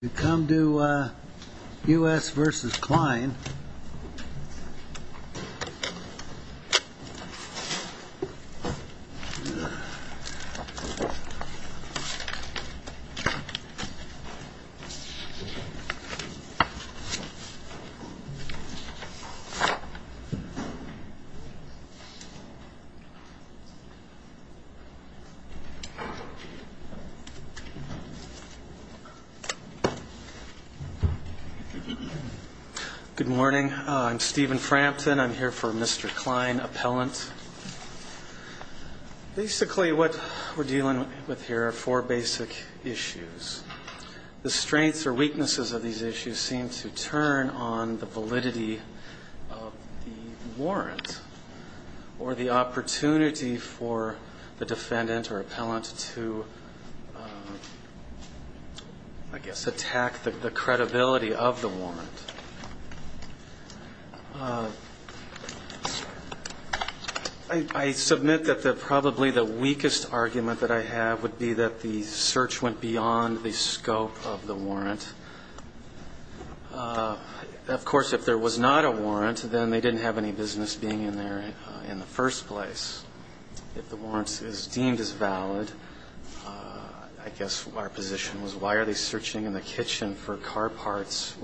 If you come to U.S. v. Klein Good morning. I'm Stephen Frampton. I'm here for Mr. Klein, appellant. Basically what we're dealing with here are four basic issues. The strengths or weaknesses of these issues seem to turn on the validity of the warrant or the opportunity for the defendant or appellant to, I guess, attack the credibility of the warrant. I submit that probably the weakest argument that I have would be that the search went beyond the scope of the warrant. Of course, if there was not a warrant, then they didn't have any business being in there in the first place. If the warrant is deemed as valid, I guess our position was, why are they searching in the kitchen for car parts?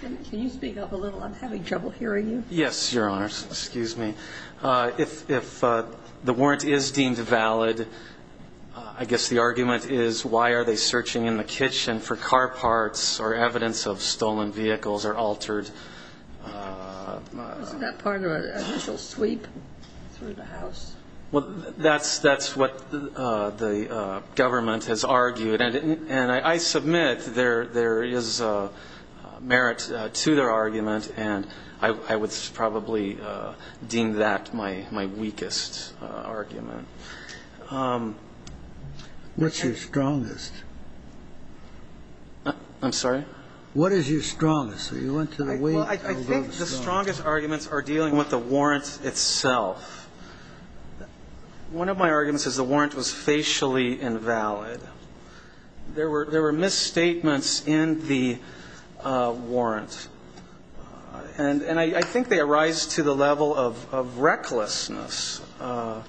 Can you speak up a little? I'm having trouble hearing you. Yes, Your Honors. Excuse me. If the warrant is deemed valid, I guess the argument is, why are they searching in the kitchen for car parts or evidence of stolen vehicles or altered? Isn't that part of an initial sweep through the house? Well, that's what the government has argued. And I submit there is merit to their argument, and I would probably deem that my weakest argument. What's your strongest? I'm sorry? What is your strongest? Well, I think the strongest arguments are dealing with the warrant itself. One of my arguments is the warrant was facially invalid. There were misstatements in the warrant. And I think they arise to the level of recklessness. I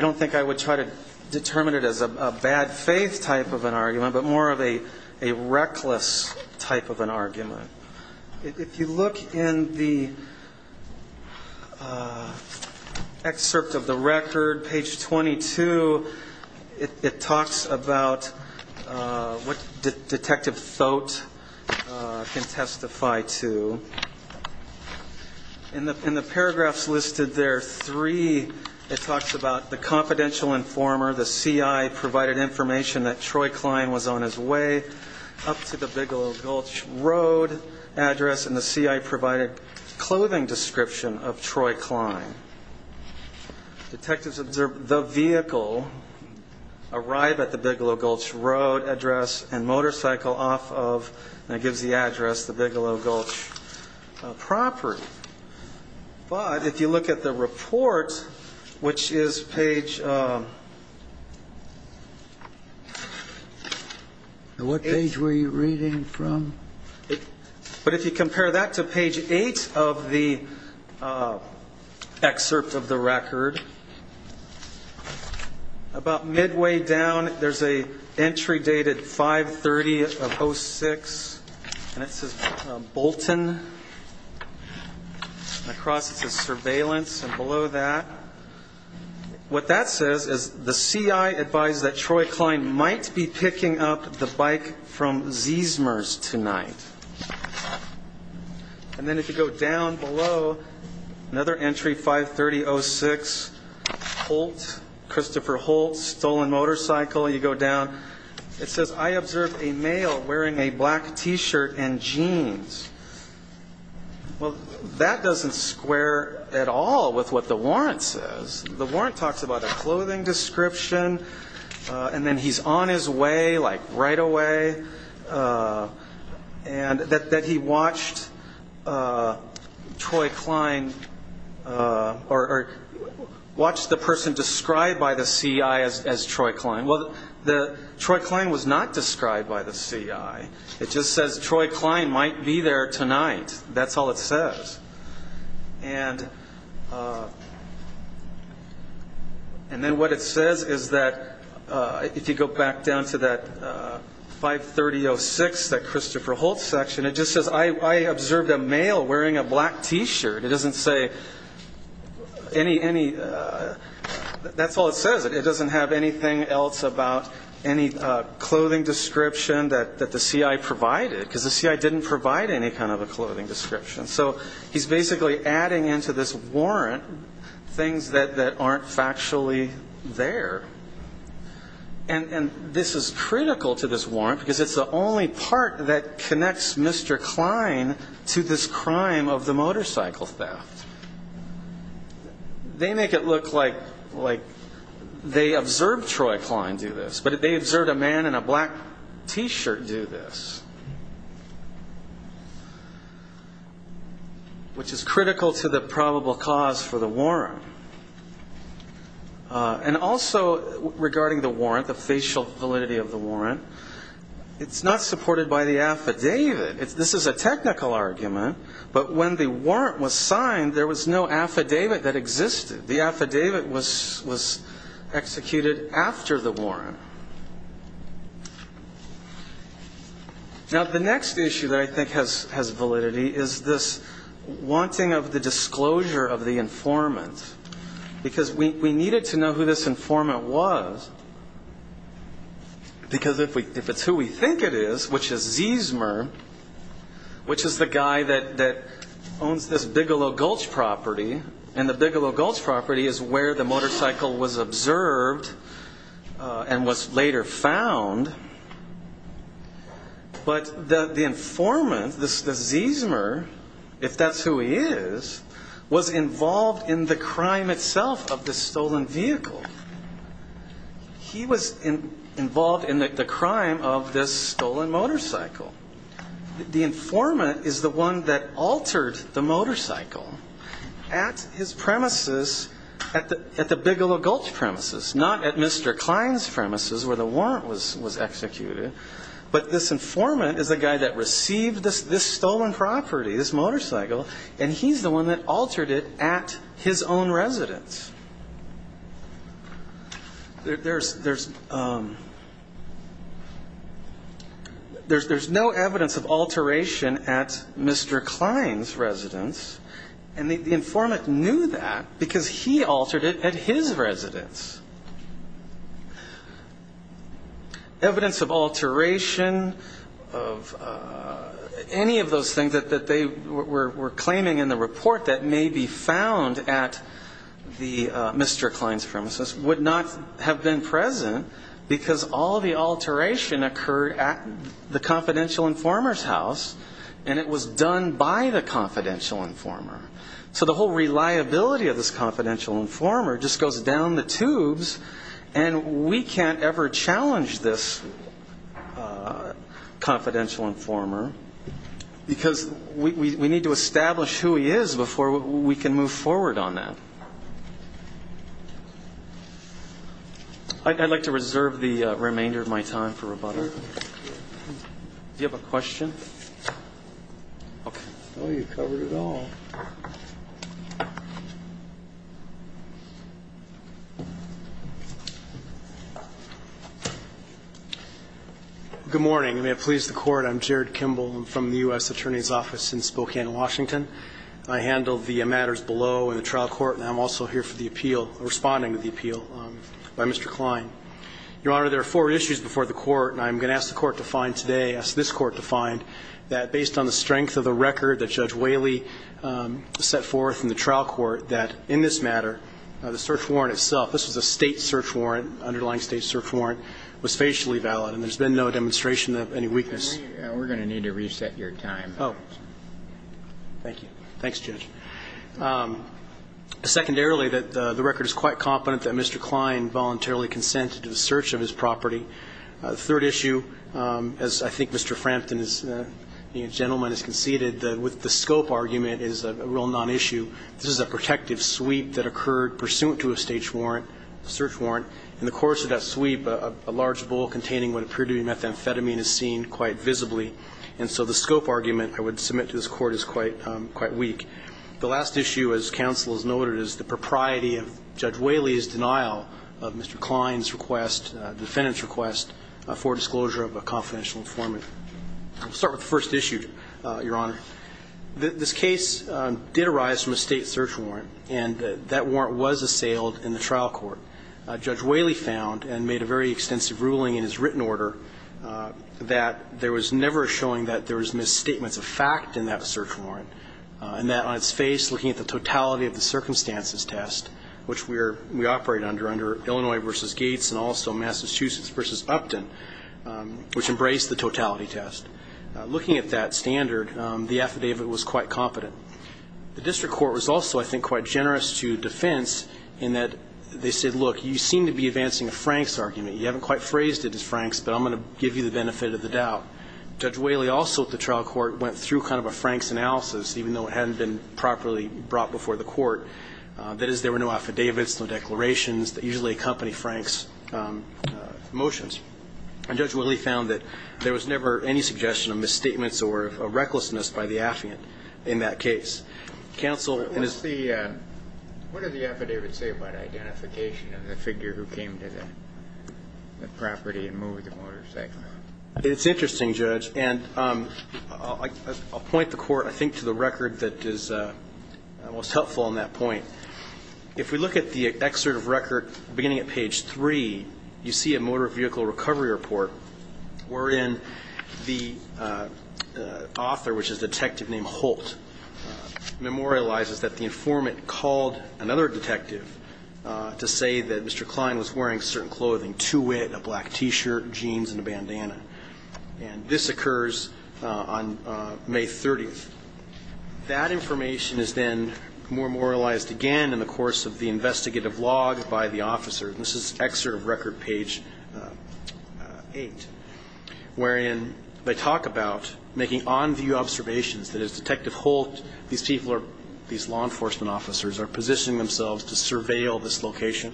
don't think I would try to determine it as a bad faith type of an argument, but more of a reckless type of an argument. If you look in the excerpt of the record, page 22, it talks about what Detective Thote can testify to. In the paragraphs listed there, three, it talks about the confidential informer, the C.I. provided information that Troy Klein was on his way up to the Bigelow Gulch Road address, and the C.I. provided clothing description of Troy Klein. Detectives observe the vehicle arrive at the Bigelow Gulch Road address and motorcycle off of, and it gives the address, the Bigelow Gulch property. But if you look at the report, which is page eight. What page were you reading from? But if you compare that to page eight of the excerpt of the record, about midway down, there's an entry dated 530 of 06, and it says Bolton, and across it says surveillance, and below that. What that says is the C.I. advised that Troy Klein might be picking up the bike from Zeesmers tonight. And then if you go down below, another entry, 530 06, Holt, Christopher Holt, stolen motorcycle. You go down. It says, I observed a male wearing a black T-shirt and jeans. Well, that doesn't square at all with what the warrant says. The warrant talks about a clothing description, and then he's on his way, like right away. And that he watched Troy Klein, or watched the person described by the C.I. as Troy Klein. Well, Troy Klein was not described by the C.I. It just says Troy Klein might be there tonight. That's all it says. And then what it says is that, if you go back down to that 530 06, that Christopher Holt section, it just says, I observed a male wearing a black T-shirt. It doesn't say any, that's all it says. It doesn't have anything else about any clothing description that the C.I. provided, because the C.I. didn't provide any kind of a clothing description. So he's basically adding into this warrant things that aren't factually there. And this is critical to this warrant, because it's the only part that connects Mr. Klein to this crime of the motorcycle theft. They make it look like they observed Troy Klein do this, which is critical to the probable cause for the warrant. And also, regarding the warrant, the facial validity of the warrant, it's not supported by the affidavit. This is a technical argument, but when the warrant was signed, there was no affidavit that existed. The affidavit was executed after the warrant. Now, the next issue that I think has validity is this wanting of the disclosure of the informant, because we needed to know who this informant was, because if it's who we think it is, which is Zeesmer, which is the guy that owns this Bigelow Gulch property, and the Bigelow Gulch property is where the motorcycle was observed and was later found, but the informant, the Zeesmer, if that's who he is, was involved in the crime itself of the stolen vehicle. He was involved in the crime of this stolen motorcycle. The informant is the one that altered the motorcycle at his premises, at the Bigelow Gulch premises, not at Mr. Kline's premises where the warrant was executed, but this informant is the guy that received this stolen property, this motorcycle, and he's the one that altered it at his own residence. There's no evidence of alteration at Mr. Kline's residence, and the informant knew that because he altered it at his residence. Evidence of alteration of any of those things that they were claiming in the report that may be found at Mr. Kline's premises would not have been present because all the alteration occurred at the confidential informer's house and it was done by the confidential informer. So the whole reliability of this confidential informer just goes down the tubes and we can't ever challenge this confidential informer because we need to establish who he is before we can move forward on that. I'd like to reserve the remainder of my time for rebuttal. Thank you, Your Honor. Do you have a question? Okay. Oh, you covered it all. Good morning, and may it please the Court. I'm Jared Kimball. I'm from the U.S. Attorney's Office in Spokane, Washington. I handled the matters below in the trial court, and I'm also here for the appeal, responding to the appeal by Mr. Kline. Your Honor, there are four issues before the court, and I'm going to ask the court to find today, ask this court to find, that based on the strength of the record that Judge Whaley set forth in the trial court, that in this matter, the search warrant itself, this was a State search warrant, underlying State search warrant, was facially valid and there's been no demonstration of any weakness. We're going to need to reset your time. Oh. Thank you. Thanks, Judge. Secondarily, that the record is quite competent that Mr. Kline voluntarily consented to the search of his property. Third issue, as I think Mr. Frampton, the gentleman, has conceded, that with the scope argument is a real nonissue. This is a protective sweep that occurred pursuant to a State search warrant. In the course of that sweep, a large bowl containing what appeared to be methamphetamine is seen quite visibly, and so the scope argument I would submit to this Court is quite weak. The last issue, as counsel has noted, is the propriety of Judge Whaley's denial of Mr. Kline's request, defendant's request, for disclosure of a confidential informant. I'll start with the first issue, Your Honor. This case did arise from a State search warrant, and that warrant was assailed in the trial court. Judge Whaley found and made a very extensive ruling in his written order that there was never a showing that there was misstatements of fact in that search warrant, and that on its face, looking at the totality of the circumstances test, which we operate under, under Illinois v. Gates and also Massachusetts v. Upton, which embraced the totality test, looking at that standard, the affidavit was quite competent. The district court was also, I think, quite generous to defense in that they said, look, you seem to be advancing a Franks argument. You haven't quite phrased it as Franks, but I'm going to give you the benefit of the doubt. Judge Whaley also at the trial court went through kind of a Franks analysis, even though it hadn't been properly brought before the court. That is, there were no affidavits, no declarations that usually accompany Franks' motions. And Judge Whaley found that there was never any suggestion of misstatements or of recklessness by the affiant in that case. Counsel, in his ---- What does the affidavit say about identification of the figure who came to the property and moved the motorcycle? It's interesting, Judge. And I'll point the Court, I think, to the record that is most helpful on that point. If we look at the excerpt of record beginning at page 3, you see a motor vehicle recovery report wherein the author, which is a detective named Holt, memorializes that the informant called another detective to say that Mr. Klein was wearing certain clothing, two-wit, a black T-shirt, jeans, and a bandana. And this occurs on May 30th. That information is then memorialized again in the course of the investigative logs by the officer. And this is excerpt of record page 8, wherein they talk about making on-view observations that as Detective Holt, these people are ---- these law enforcement officers are positioning themselves to surveil this location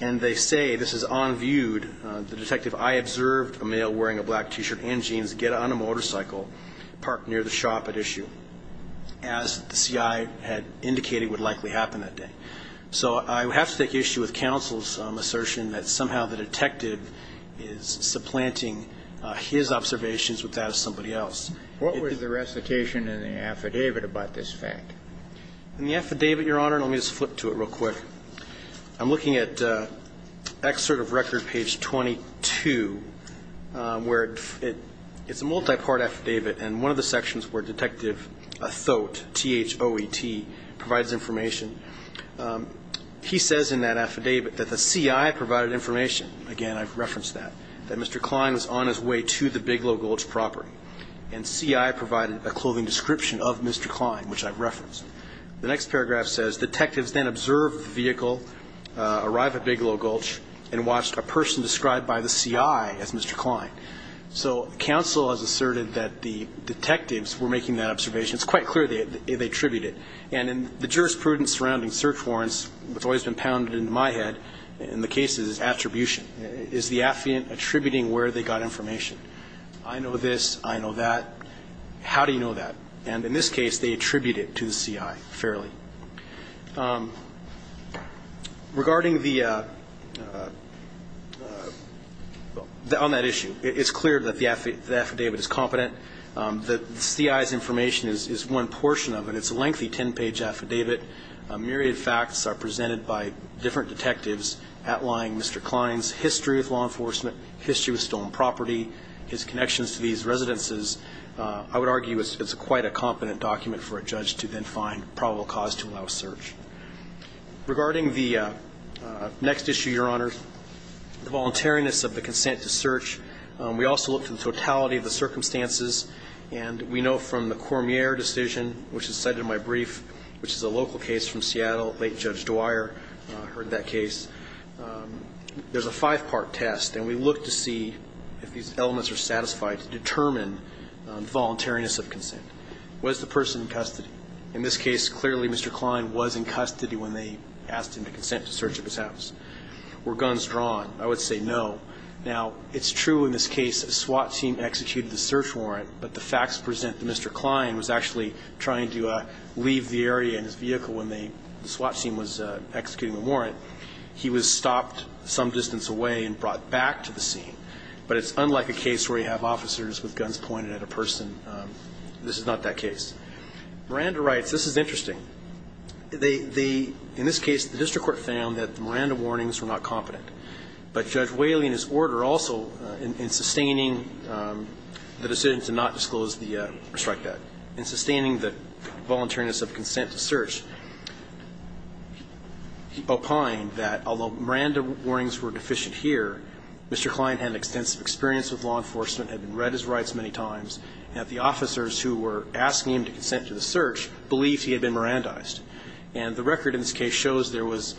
and they say this is on-viewed. The detective, I observed a male wearing a black T-shirt and jeans get on a motorcycle, parked near the shop at issue, as the CI had indicated would likely happen that day. So I have to take issue with counsel's assertion that somehow the detective is supplanting his observations with that of somebody else. What was the recitation in the affidavit about this fact? In the affidavit, Your Honor, and let me just flip to it real quick. I'm looking at excerpt of record page 22, where it's a multi-part affidavit, and one of the sections where Detective Thoet, T-H-O-E-T, provides information. He says in that affidavit that the CI provided information. Again, I've referenced that, that Mr. Klein was on his way to the Big Lo Gulch property, and CI provided a clothing description of Mr. Klein, which I've referenced. The next paragraph says, Detectives then observed the vehicle arrive at Big Lo Gulch and watched a person described by the CI as Mr. Klein. So counsel has asserted that the detectives were making that observation. It's quite clear they attribute it. And in the jurisprudence surrounding search warrants, which has always been pounded into my head in the cases, is attribution. Is the affiant attributing where they got information? I know this, I know that. How do you know that? And in this case, they attribute it to the CI fairly. Regarding the, on that issue, it's clear that the affidavit is competent. The CI's information is one portion of it. It's a lengthy ten-page affidavit. A myriad of facts are presented by different detectives outlying Mr. Klein's history with law enforcement, history with stolen property, his connections to these residences. I would argue it's quite a competent document for a judge to then find probable cause to allow a search. Regarding the next issue, Your Honors, the voluntariness of the consent to search, we also looked at the totality of the circumstances. And we know from the Cormier decision, which is cited in my brief, which is a local case from Seattle, late Judge Dwyer heard that case. There's a five-part test. And we looked to see if these elements are satisfied to determine voluntariness of consent. Was the person in custody? In this case, clearly Mr. Klein was in custody when they asked him to consent to search of his house. Were guns drawn? I would say no. Now, it's true in this case a SWAT team executed the search warrant, but the facts present that Mr. Klein was actually trying to leave the area in his vehicle when the SWAT team was executing the warrant. He was stopped some distance away and brought back to the scene. But it's unlike a case where you have officers with guns pointed at a person. This is not that case. Miranda writes, this is interesting. In this case, the district court found that the Miranda warnings were not competent. But Judge Whaley and his order also, in sustaining the decision to not disclose the strike debt, in sustaining the voluntariness of consent to search, opined that although Miranda warnings were deficient here, Mr. Klein had extensive experience with law enforcement, had read his rights many times, and that the officers who were asking him to consent to the search believed he had been Mirandized. And the record in this case shows there was,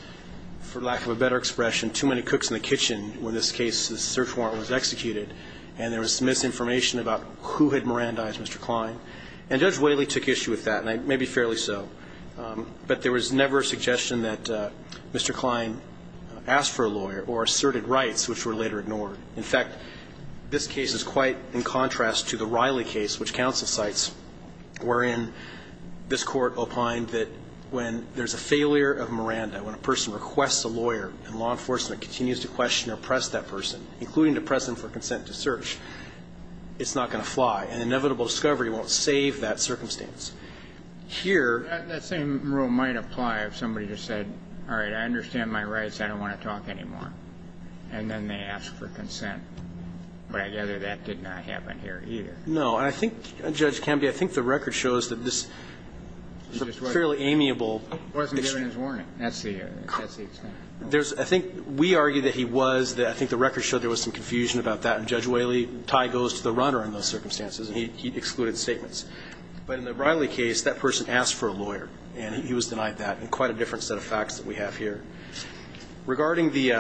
for lack of a better expression, too many cooks in the kitchen when this case, this search warrant was executed, and there was misinformation about who had Mirandized Mr. Klein. And Judge Whaley took issue with that, and maybe fairly so. But there was never a suggestion that Mr. Klein asked for a lawyer or asserted rights, which were later ignored. In fact, this case is quite in contrast to the Riley case, which counsel cites, wherein this court opined that when there's a failure of Miranda, when a person requests a lawyer and law enforcement continues to question or press that person, including to press them for consent to search, it's not going to fly. And inevitable discovery won't save that circumstance. Here That same rule might apply if somebody just said, all right, I understand my rights. I don't want to talk anymore. And then they ask for consent. But I gather that did not happen here either. No. And I think, Judge Camby, I think the record shows that this fairly amiable Wasn't given his warning. That's the extent. I think we argue that he was. I think the record showed there was some confusion about that. And Judge Whaley, tie goes to the runner in those circumstances, and he excluded statements. But in the Riley case, that person asked for a lawyer, and he was denied that, and quite a different set of facts that we have here. Regarding the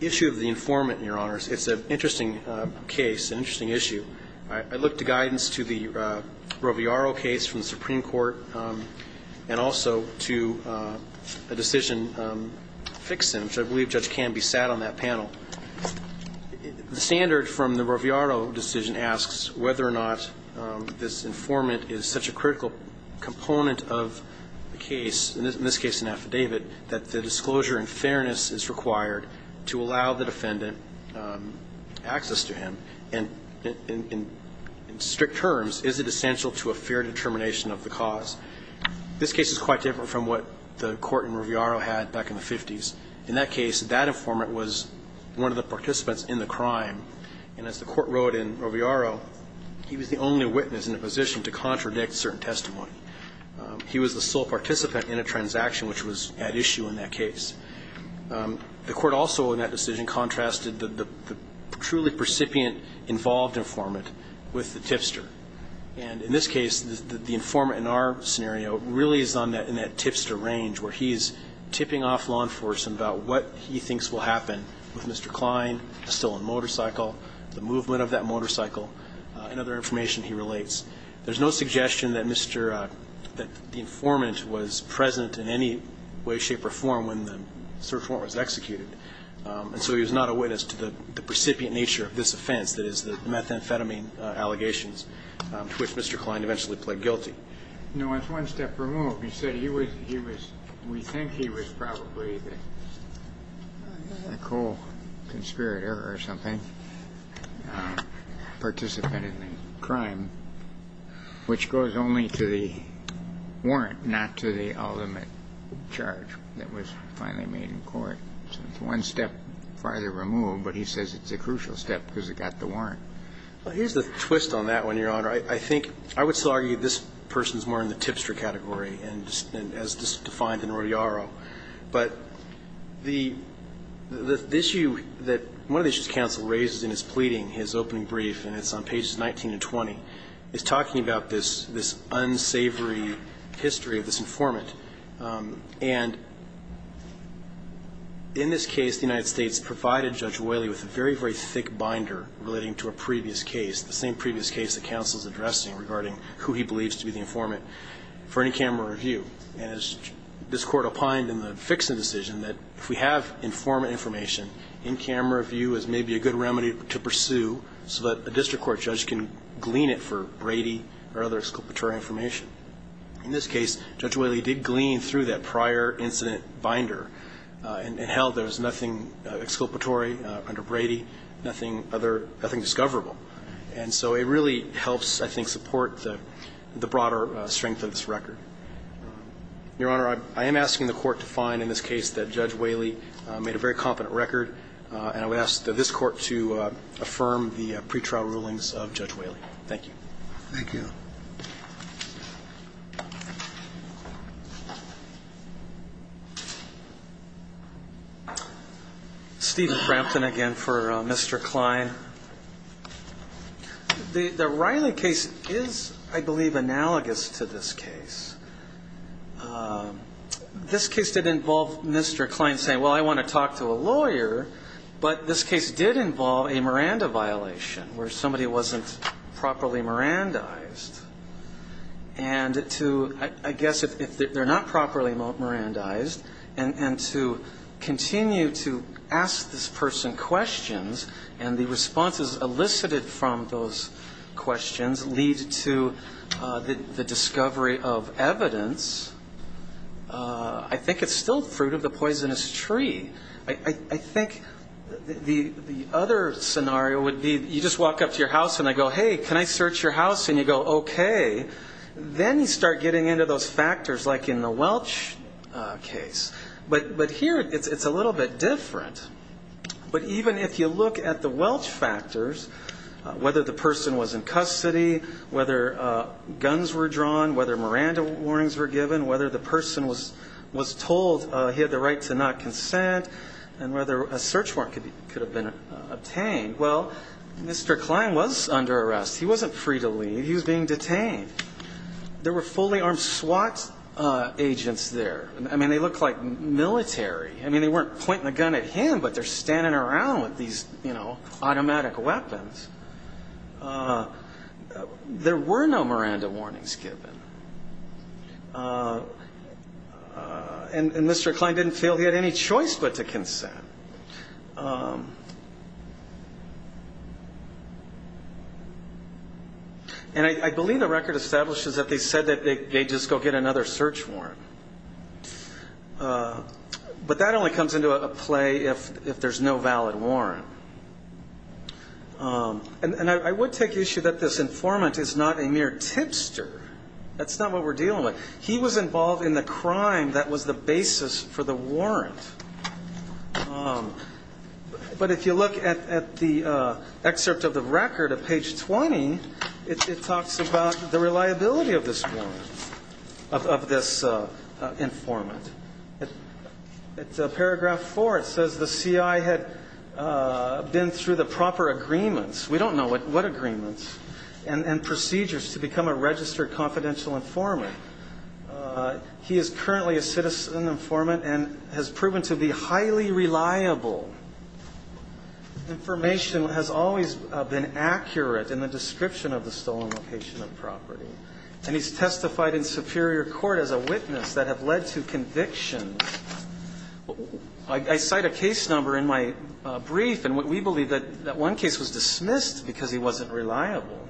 issue of the informant, Your Honors, it's an interesting case, an interesting issue. I looked to guidance to the Roviaro case from the Supreme Court and also to a decision fix-in, which I believe Judge Camby sat on that panel. The standard from the Roviaro decision asks whether or not this informant is such a critical component of the case, in this case an affidavit, that the disclosure in fairness is required to allow the defendant access to him. And in strict terms, is it essential to a fair determination of the cause? This case is quite different from what the court in Roviaro had back in the 50s. In that case, that informant was one of the participants in the crime. And as the court wrote in Roviaro, he was the only witness in a position to contradict certain testimony. He was the sole participant in a transaction which was at issue in that case. The court also in that decision contrasted the truly precipient involved informant with the tipster. And in this case, the informant in our scenario really is on that tipster range, where he's tipping off law enforcement about what he thinks will happen with Mr. Klein, the stolen motorcycle, the movement of that motorcycle, and other information he relates. There's no suggestion that Mr. --" that the informant was present in any way, shape or form when the search warrant was executed. And so he was not a witness to the precipient nature of this offense, that is, the methamphetamine allegations to which Mr. Klein eventually pled guilty. No, it's one step removed. He said he was we think he was probably a co-conspirator or something, participant in the crime, which goes only to the warrant, not to the ultimate charge that was finally made in court. So it's one step farther removed. But he says it's a crucial step because it got the warrant. Well, here's the twist on that one, Your Honor. I think I would still argue this person is more in the tipster category and as defined in Rodearo. But the issue that one of the issues counsel raises in his pleading, his opening brief, and it's on pages 19 and 20, is talking about this unsavory history of this informant. And in this case, the United States provided Judge Oiley with a very, very thick binder relating to a previous case, the same previous case that counsel is addressing regarding who he believes to be the informant for in-camera review. And as this Court opined in the fix-it decision that if we have informant information, in-camera review is maybe a good remedy to pursue so that a district court judge can glean it for Brady or other exculpatory information. In this case, Judge Oiley did glean through that prior incident binder and held there nothing discoverable. And so it really helps, I think, support the broader strength of this record. Your Honor, I am asking the Court to find in this case that Judge Oiley made a very competent record, and I would ask that this Court to affirm the pretrial rulings of Judge Oiley. Thank you. Thank you. Thank you. Stephen Frampton again for Mr. Klein. The Riley case is, I believe, analogous to this case. This case did involve Mr. Klein saying, well, I want to talk to a lawyer, but this case did involve a Miranda violation where somebody wasn't properly Mirandized. And to, I guess, if they're not properly Mirandized, and to continue to ask this person questions, and the responses elicited from those questions lead to the discovery of evidence, I think it's still fruit of the poisonous tree. I think the other scenario would be you just walk up to your house and I go, hey, can I search your house? And you go, okay. Then you start getting into those factors like in the Welch case. But here it's a little bit different. But even if you look at the Welch factors, whether the person was in custody, whether guns were drawn, whether Miranda warnings were given, whether the person was told he had the right to not consent, and whether a search warrant could have been obtained, well, Mr. Klein was under arrest. He wasn't free to leave. He was being detained. There were fully armed SWAT agents there. I mean, they looked like military. I mean, they weren't pointing the gun at him, but they're standing around with these, you know, automatic weapons. There were no Miranda warnings given. And Mr. Klein didn't feel he had any choice but to consent. And I believe the record establishes that they said that they'd just go get another search warrant. But that only comes into play if there's no valid warrant. And I would take issue that this informant is not a mere tipster. That's not what we're dealing with. He was involved in the crime that was the basis for the warrant. But if you look at the excerpt of the record at page 20, it talks about the reliability of this warrant, of this informant. At paragraph 4, it says the C.I. had been through the proper agreements we don't know what agreements and procedures to become a registered confidential informant. He is currently a citizen informant and has proven to be highly reliable. Information has always been accurate in the description of the stolen location of property. And he's testified in superior court as a witness that have led to conviction. I cite a case number in my brief, and we believe that one case was dismissed because he wasn't reliable.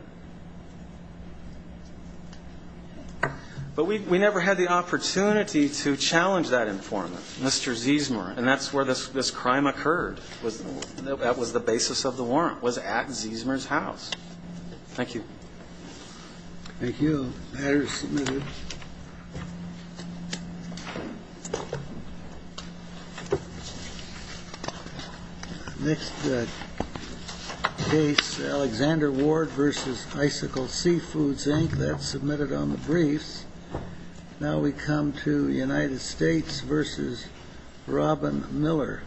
But we never had the opportunity to challenge that informant, Mr. Ziesmer, and that's where this crime occurred, that was the basis of the warrant, was at Ziesmer's Thank you. The matter is submitted. Next case, Alexander Ward v. Icicle Seafoods, Inc. That's submitted on the briefs. Now we come to United States v. Robin Miller.